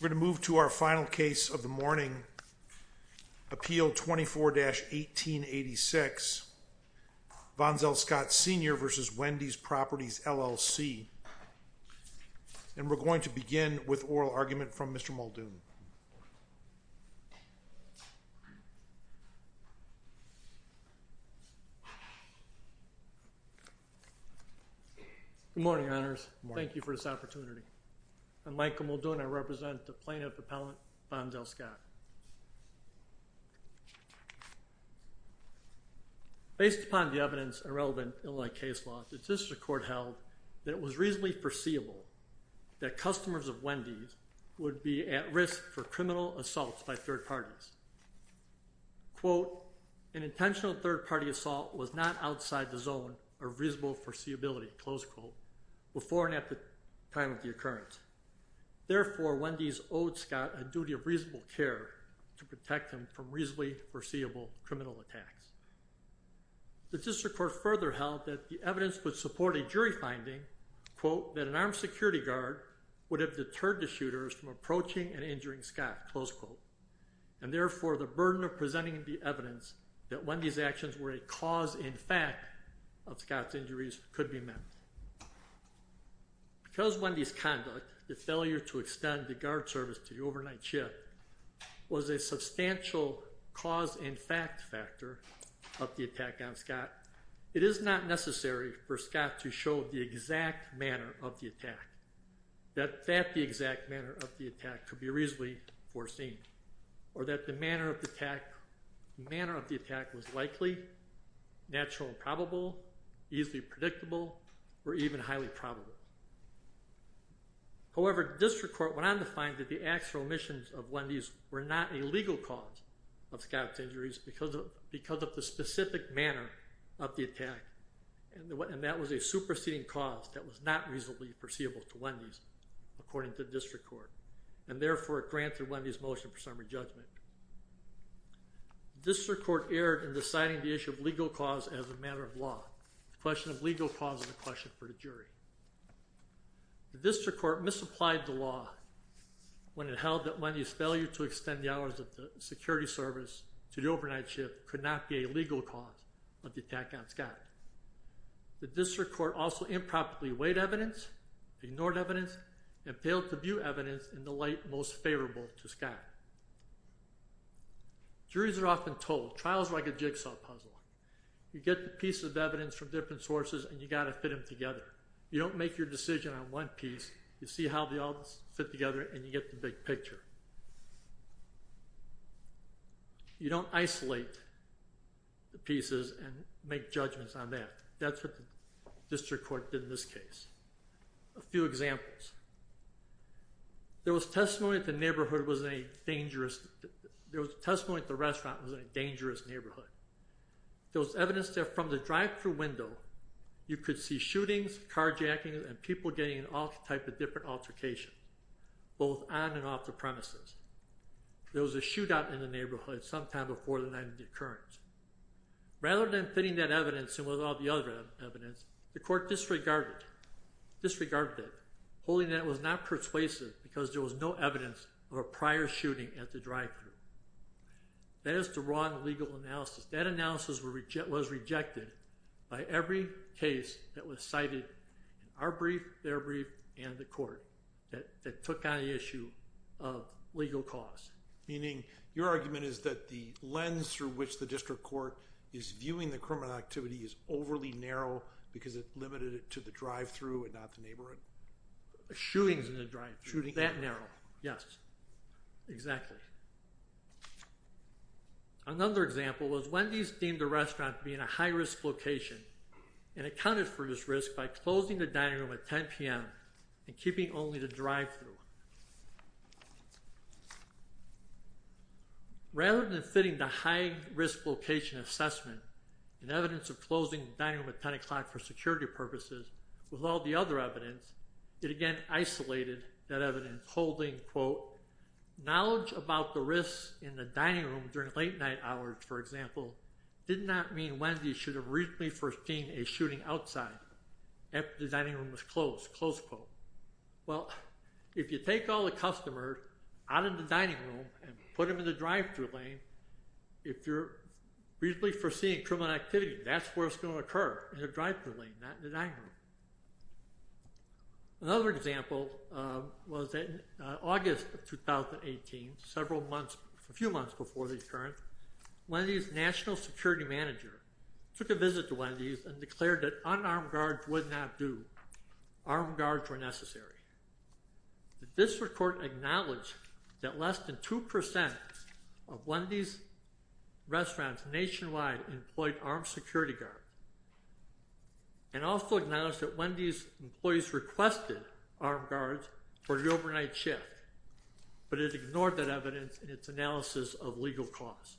We're going to move to our final case of the morning, Appeal 24-1886, Vonzell Scott, Sr. v. Wendy's Properties, LLC, and we're going to begin with oral argument from Mr. Muldoon. Good morning, Your Honors. Thank you for this opportunity. I'm Michael Muldoon. I represent the plaintiff, Appellant Vonzell Scott. Based upon the evidence and relevant Illinois case law, the District Court held that it was reasonably foreseeable that customers of Wendy's would be at risk for criminal assaults by third parties. Quote, an intentional third-party assault was not outside the zone of reasonable foreseeability, close quote, before and at the time of the occurrence. Therefore, Wendy's owed Scott a duty of reasonable care to protect him from reasonably foreseeable criminal attacks. The District Court further held that the evidence would support a jury finding, quote, that an armed security guard would have deterred the shooters from approaching and injuring Scott, close quote. And therefore, the burden of presenting the evidence that Wendy's actions were a cause in fact of Scott's injuries could be met. Because Wendy's conduct, the failure to extend the guard service to the overnight shift, was a substantial cause in fact factor of the attack on Scott, it is not necessary for Scott to show the exact manner of the attack, that that the exact manner of the attack could be reasonably foreseen, or that the manner of the attack was likely, natural and probable, easily predictable, or even highly probable. However, District Court went on to find that the actual omissions of Wendy's were not a legal cause of Scott's injuries because of the specific manner of the attack, and that was a superseding cause that was not reasonably foreseeable to Wendy's, according to District Court. And therefore, it granted Wendy's motion for summary judgment. District Court erred in deciding the issue of legal cause as a matter of law. The question of legal cause is a question for the jury. The District Court misapplied the law when it held that Wendy's failure to extend the hours of the security service to the overnight shift could not be a legal cause of the attack on Scott. The District Court also improperly weighed evidence, ignored evidence, and failed to view evidence in the light most favorable to Scott. Juries are often told, trial is like a jigsaw puzzle. You get the pieces of evidence from different sources and you've got to fit them together. You don't make your decision on one piece, you see how they all fit together and you get the big picture. You don't isolate the pieces and make judgments on that. That's what the District Court did in this case. A few examples. There was testimony that the restaurant was in a dangerous neighborhood. There was evidence that from the drive-thru window, you could see shootings, carjackings, and people getting all types of different altercations, both on and off the premises. There was a shootout in the neighborhood sometime before the night of the occurrence. Rather than fitting that evidence in with all the other evidence, the court disregarded it, holding that it was not persuasive because there was no evidence of a prior shooting at the drive-thru. That is the wrong legal analysis. That analysis was rejected by every case that was cited in our brief, their brief, and the court that took on the issue of legal cause. Meaning, your argument is that the lens through which the District Court is viewing the criminal activity is overly narrow because it limited it to the drive-thru and not the neighborhood? Shootings in the drive-thru, that narrow, yes. Exactly. Another example was Wendy's deemed the restaurant to be in a high-risk location and accounted for this risk by closing the dining room at 10 p.m. and keeping only the drive-thru. Rather than fitting the high-risk location assessment and evidence of closing the dining room at 10 o'clock for security purposes with all the other evidence, it again isolated that evidence, holding, quote, knowledge about the risks in the dining room during late-night hours, for example, did not mean Wendy's should have reasonably foreseen a shooting outside after the dining room was closed, close quote. Well, if you take all the customers out of the dining room and put them in the drive-thru lane, if you're reasonably foreseeing criminal activity, that's where it's going to occur, in the drive-thru lane, not in the dining room. Another example was that in August of 2018, several months, a few months before the occurrence, Wendy's national security manager took a visit to Wendy's and declared that unarmed guards would not do. Armed guards were necessary. The district court acknowledged that less than 2% of Wendy's restaurants nationwide employed armed security guards and also acknowledged that Wendy's employees requested armed guards for the overnight shift, but it ignored that evidence in its analysis of legal cause.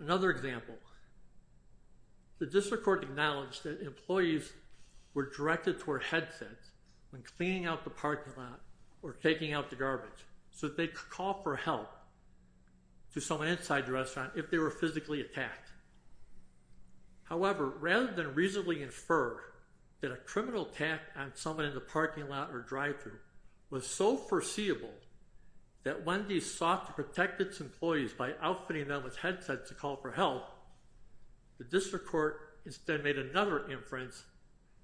Another example, the district court acknowledged that employees were directed to wear headsets when cleaning out the parking lot or taking out the garbage, so that they could call for help to someone inside the restaurant if they were physically attacked. However, rather than reasonably infer that a criminal attack on someone in the parking lot or drive-thru was so foreseeable that Wendy's sought to protect its employees by outfitting them with headsets to call for help, the district court instead made another inference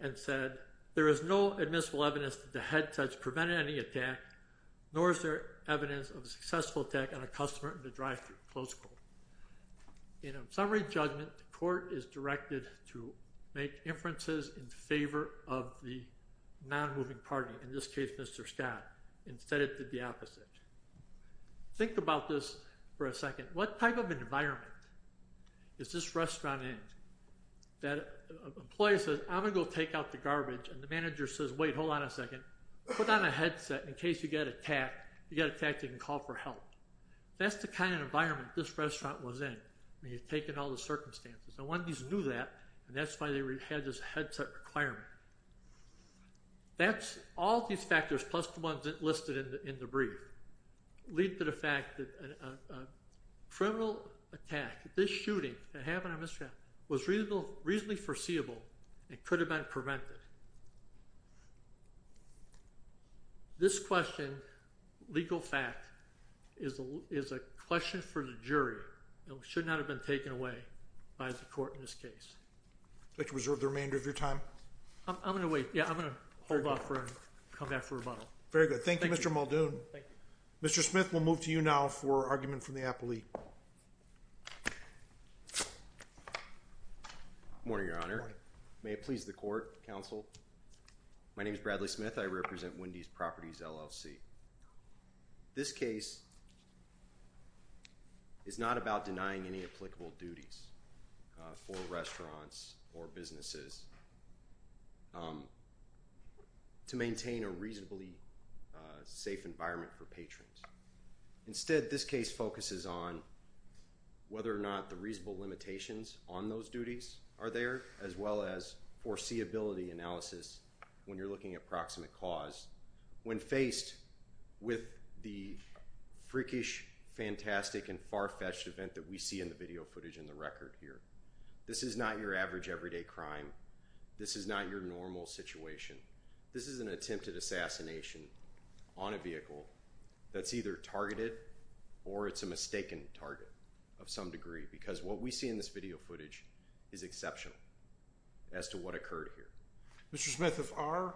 and said, there is no admissible evidence that the headsets prevented any attack, nor is there evidence of a successful attack on a customer in the drive-thru, close quote. In a summary judgment, the court is directed to make inferences in favor of the non-moving party, in this case, Mr. Scott, and said it did the opposite. Think about this for a second. What type of an environment is this restaurant in? That employee says, I'm going to go take out the garbage, and the manager says, wait, hold on a second. Put on a headset in case you get attacked. If you get attacked, you can call for help. That's the kind of environment this restaurant was in when you take in all the circumstances, and Wendy's knew that, and that's why they had this headset requirement. That's all these factors plus the ones listed in the brief lead to the fact that a criminal attack, this shooting that happened at this restaurant was reasonably foreseeable and could have been prevented. This question, legal fact, is a question for the jury. It should not have been taken away by the court in this case. Would you like to reserve the remainder of your time? I'm going to wait. Yeah, I'm going to hold off and come back for rebuttal. Very good. Thank you, Mr. Muldoon. Thank you. Mr. Smith, we'll move to you now for argument from the appellee. Good morning, Your Honor. Good morning. May it please the court, counsel. My name is Bradley Smith. I represent Wendy's Properties LLC. This case is not about denying any applicable duties for restaurants or businesses to maintain a reasonably safe environment for patrons. Instead, this case focuses on whether or not the reasonable limitations on those duties are there, as well as foreseeability analysis when you're looking at proximate cause. When faced with the freakish, fantastic, and far-fetched event that we see in the video footage and the record here, this is not your average, everyday crime. This is not your normal situation. This is an attempted assassination on a vehicle that's either targeted or it's a mistaken target of some degree because what we see in this video footage is exceptional as to what occurred here. Mr. Smith, if our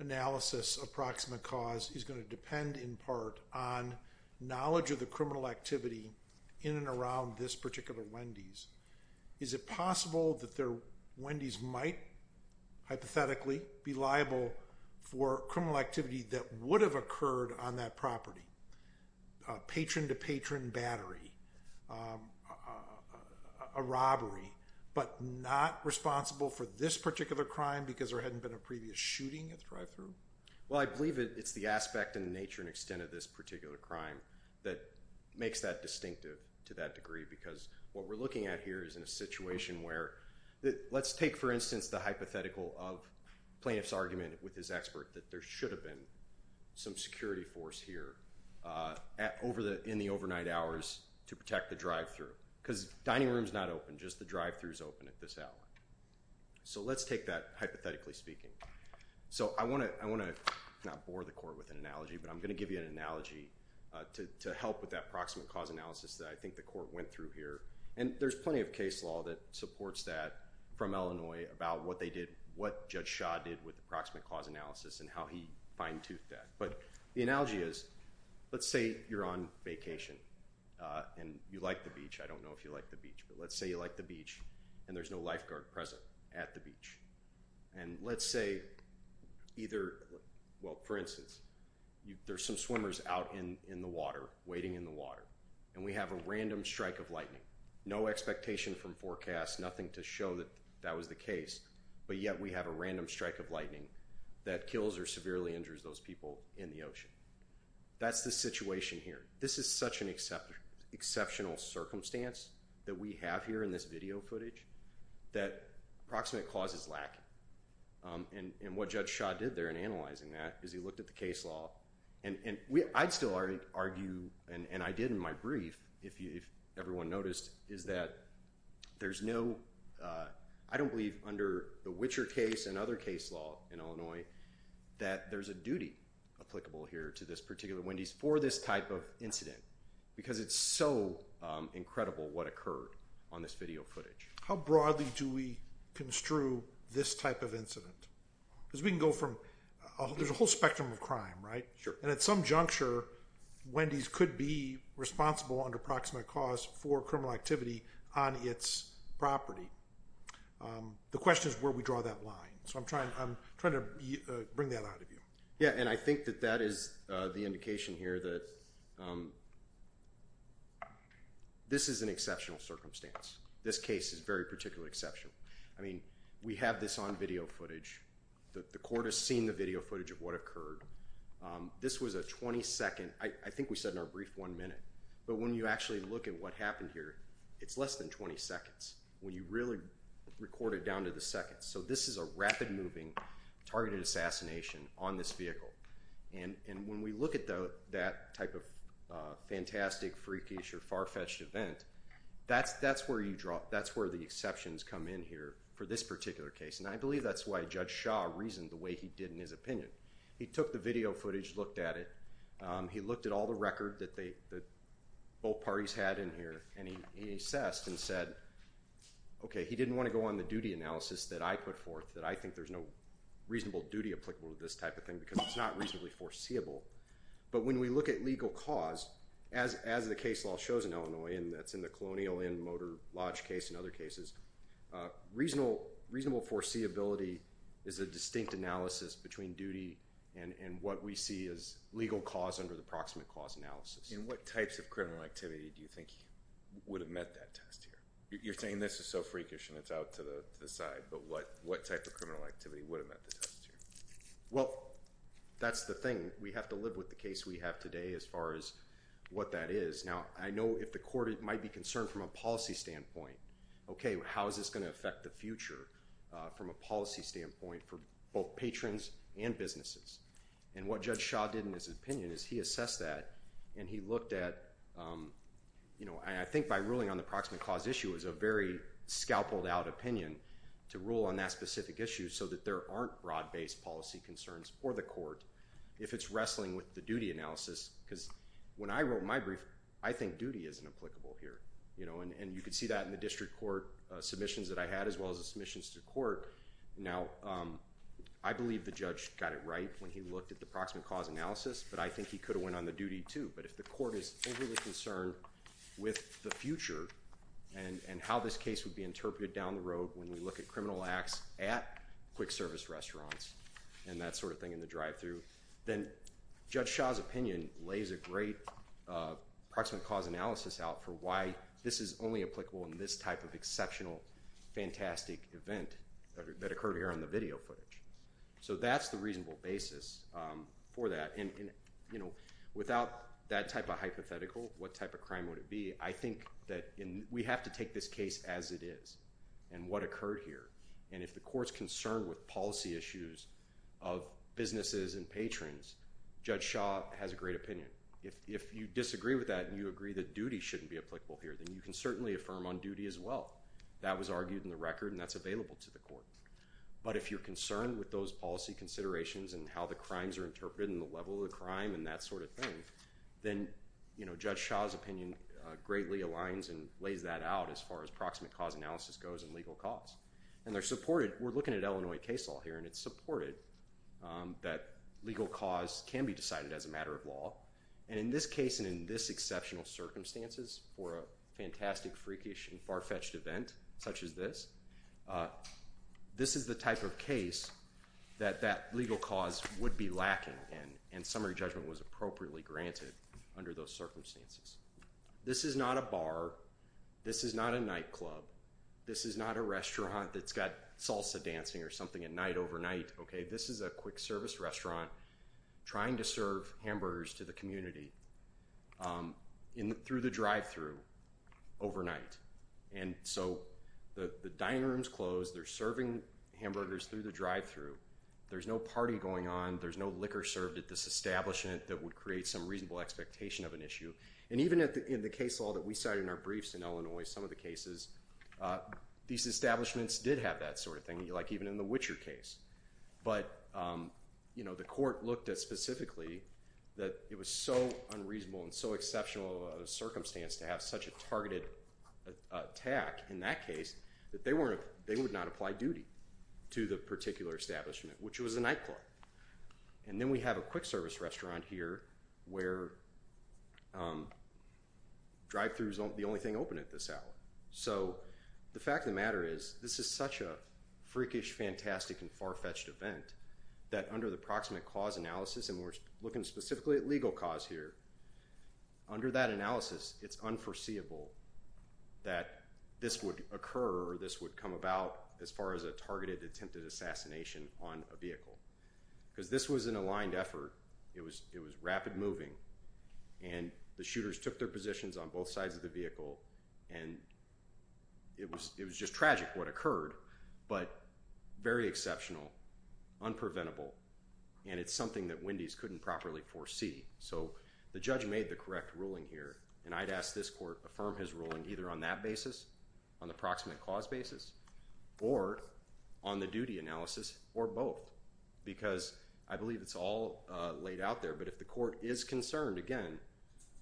analysis of proximate cause is going to depend in part on knowledge of the criminal activity in and around this particular Wendy's, is it possible that their Wendy's might hypothetically be liable for criminal activity that would have occurred on that property? Patron-to-patron battery, a robbery, but not responsible for this particular crime because there hadn't been a previous shooting at the drive-thru? Well, I believe it's the aspect and nature and extent of this particular crime that makes that distinctive to that degree because what we're looking at here is in a situation where let's take, for instance, the hypothetical of plaintiff's argument with his expert that there should have been some security force here in the overnight hours to protect the drive-thru because dining room's not open, just the drive-thru's open at this hour. So let's take that hypothetically speaking. So I want to not bore the court with an analogy, but I'm going to give you an analogy to help with that proximate cause analysis that I think the court went through here. And there's plenty of case law that supports that from Illinois about what they did, what Judge Shah did with the proximate cause analysis and how he fine-toothed that. But the analogy is let's say you're on vacation and you like the beach. I don't know if you like the beach, but let's say you like the beach and there's no lifeguard present at the beach. And let's say either, well, for instance, there's some swimmers out in the water, waiting in the water, and we have a random strike of lightning. No expectation from forecast, nothing to show that that was the case, but yet we have a random strike of lightning that kills or severely injures those people in the ocean. That's the situation here. This is such an exceptional circumstance that we have here in this video footage that proximate cause is lacking. And what Judge Shah did there in analyzing that is he looked at the case law. And I'd still argue, and I did in my brief, if everyone noticed, is that there's no— I don't believe under the Witcher case and other case law in Illinois that there's a duty applicable here to this particular Wendy's for this type of incident because it's so incredible what occurred on this video footage. How broadly do we construe this type of incident? Because we can go from—there's a whole spectrum of crime, right? Sure. And at some juncture, Wendy's could be responsible under proximate cause for criminal activity on its property. The question is where we draw that line. So I'm trying to bring that out of you. Yeah, and I think that that is the indication here that this is an exceptional circumstance. This case is very particularly exceptional. I mean, we have this on video footage. The court has seen the video footage of what occurred. This was a 20-second—I think we said in our brief one minute, but when you actually look at what happened here, it's less than 20 seconds when you really record it down to the seconds. So this is a rapid-moving targeted assassination on this vehicle. And when we look at that type of fantastic, freakish, or far-fetched event, that's where you draw— And I believe that's why Judge Shah reasoned the way he did in his opinion. He took the video footage, looked at it. He looked at all the record that both parties had in here, and he assessed and said, okay, he didn't want to go on the duty analysis that I put forth, that I think there's no reasonable duty applicable to this type of thing because it's not reasonably foreseeable. But when we look at legal cause, as the case law shows in Illinois, and that's in the Colonial Inn-Motor Lodge case and other cases, reasonable foreseeability is a distinct analysis between duty and what we see as legal cause under the proximate cause analysis. And what types of criminal activity do you think would have met that test here? You're saying this is so freakish and it's out to the side, but what type of criminal activity would have met the test here? Well, that's the thing. We have to live with the case we have today as far as what that is. Now, I know if the court might be concerned from a policy standpoint, okay, how is this going to affect the future from a policy standpoint for both patrons and businesses? And what Judge Shaw did in his opinion is he assessed that and he looked at, you know, and I think by ruling on the proximate cause issue, it was a very scalpeled-out opinion to rule on that specific issue so that there aren't broad-based policy concerns for the court if it's wrestling with the duty analysis. Because when I wrote my brief, I think duty isn't applicable here, you know, and you can see that in the district court submissions that I had as well as the submissions to court. Now, I believe the judge got it right when he looked at the proximate cause analysis, but I think he could have went on the duty too. But if the court is overly concerned with the future and how this case would be interpreted down the road when we look at criminal acts at quick service restaurants and that sort of thing in the drive-through, then Judge Shaw's opinion lays a great proximate cause analysis out for why this is only applicable in this type of exceptional, fantastic event that occurred here on the video footage. So that's the reasonable basis for that. And, you know, without that type of hypothetical, what type of crime would it be, I think that we have to take this case as it is and what occurred here. And if the court's concerned with policy issues of businesses and patrons, Judge Shaw has a great opinion. If you disagree with that and you agree that duty shouldn't be applicable here, then you can certainly affirm on duty as well. That was argued in the record and that's available to the court. But if you're concerned with those policy considerations and how the crimes are interpreted and the level of the crime and that sort of thing, then, you know, Judge Shaw's opinion greatly aligns and lays that out as far as proximate cause analysis goes in legal cause. And they're supported. We're looking at Illinois case law here and it's supported that legal cause can be decided as a matter of law. And in this case and in this exceptional circumstances for a fantastic, freakish, and far-fetched event such as this, this is the type of case that that legal cause would be lacking and summary judgment was appropriately granted under those circumstances. This is not a bar. This is not a nightclub. This is not a restaurant that's got salsa dancing or something at night overnight, okay? This is a quick service restaurant trying to serve hamburgers to the community through the drive-thru overnight. And so the dining room's closed. They're serving hamburgers through the drive-thru. There's no party going on. There's no liquor served at this establishment that would create some reasonable expectation of an issue. And even in the case law that we cite in our briefs in Illinois, some of the cases, these establishments did have that sort of thing, like even in the Witcher case. But, you know, the court looked at specifically that it was so unreasonable and so exceptional of a circumstance to have such a targeted attack in that case that they would not apply duty to the particular establishment, which was a nightclub. And then we have a quick service restaurant here where drive-thrus aren't the only thing open at this hour. So the fact of the matter is this is such a freakish, fantastic, and far-fetched event that under the proximate cause analysis, and we're looking specifically at legal cause here, under that analysis it's unforeseeable that this would occur or this would come about as far as a targeted attempted assassination on a vehicle. Because this was an aligned effort. It was rapid moving, and the shooters took their positions on both sides of the vehicle, and it was just tragic what occurred, but very exceptional, unpreventable, and it's something that Wendy's couldn't properly foresee. So the judge made the correct ruling here, and I'd ask this court to affirm his ruling either on that basis, on the proximate cause basis, or on the duty analysis, or both. Because I believe it's all laid out there, but if the court is concerned, again,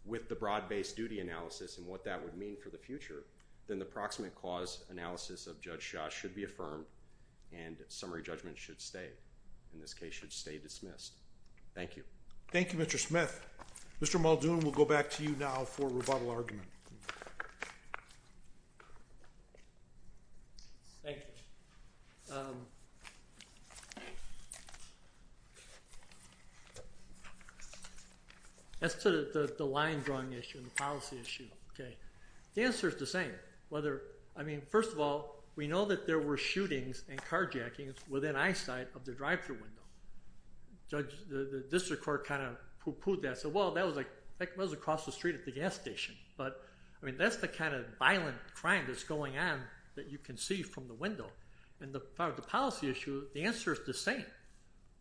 with the broad-based duty analysis and what that would mean for the future, then the proximate cause analysis of Judge Shaw should be affirmed, and summary judgment should stay, in this case should stay dismissed. Thank you. Thank you, Mr. Smith. Mr. Muldoon, we'll go back to you now for rebuttal argument. Thank you. As to the line drawing issue and the policy issue, okay, the answer is the same. I mean, first of all, we know that there were shootings and carjackings within eyesight of the drive-thru window. The district court kind of poo-pooed that. Said, well, that was across the street at the gas station. But, I mean, that's the kind of violent crime that's going on that you can see from the window. And the policy issue, the answer is the same.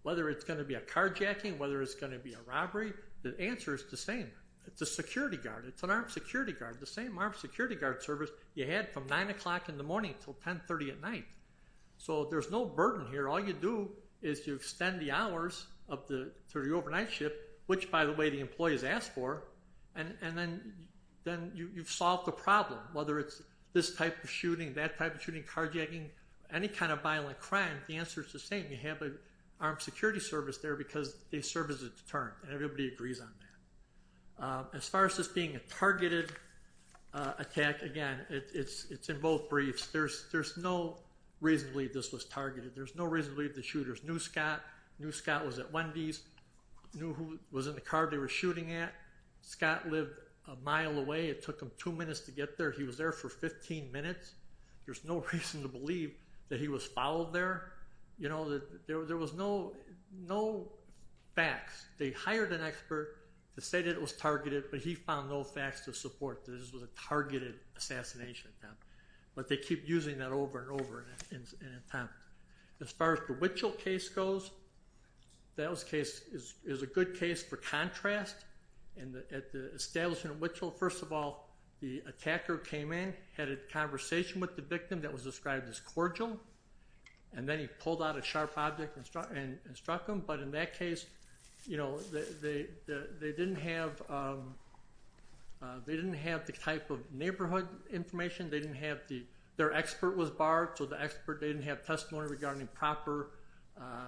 Whether it's going to be a carjacking, whether it's going to be a robbery, the answer is the same. It's a security guard. It's an armed security guard. The same armed security guard service you had from 9 o'clock in the morning until 10.30 at night. So there's no burden here. All you do is you extend the hours to the overnight ship, which, by the way, the employees asked for, and then you've solved the problem. Whether it's this type of shooting, that type of shooting, carjacking, any kind of violent crime, the answer is the same. You have an armed security service there because they serve as a deterrent, and everybody agrees on that. As far as this being a targeted attack, again, it's in both briefs. There's no reason to believe this was targeted. There's no reason to believe the shooters knew Scott, knew Scott was at Wendy's, knew who was in the car they were shooting at. Scott lived a mile away. It took him two minutes to get there. He was there for 15 minutes. There's no reason to believe that he was followed there. You know, there was no facts. They hired an expert to say that it was targeted, but he found no facts to support that this was a targeted assassination attempt. But they keep using that over and over in an attempt. As far as the Wichelt case goes, that case is a good case for contrast. At the establishment of Wichelt, first of all, the attacker came in, had a conversation with the victim that was described as cordial, and then he pulled out a sharp object and struck him. But in that case, you know, they didn't have the type of neighborhood information. Their expert was barred, so the expert didn't have testimony regarding proper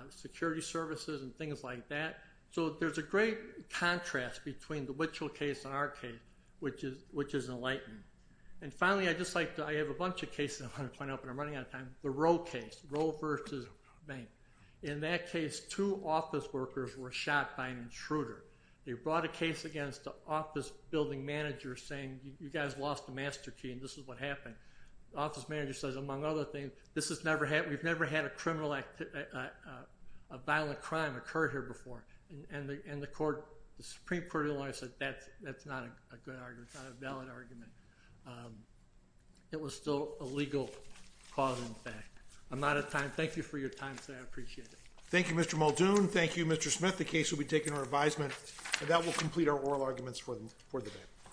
security services and things like that. So there's a great contrast between the Wichelt case and our case, which is enlightened. And finally, I have a bunch of cases I want to point out, but I'm running out of time. The Rowe case, Rowe v. Bank. In that case, two office workers were shot by an intruder. They brought a case against the office building manager saying, you guys lost the master key and this is what happened. The office manager says, among other things, this has never happened. We've never had a criminal act, a violent crime occur here before. And the Supreme Court of the law said that's not a good argument, not a valid argument. It was still a legal cause, in fact. I'm out of time. Thank you for your time today. I appreciate it. Thank you, Mr. Muldoon. Thank you, Mr. Smith. The case will be taken to revisement, and that will complete our oral arguments for the day.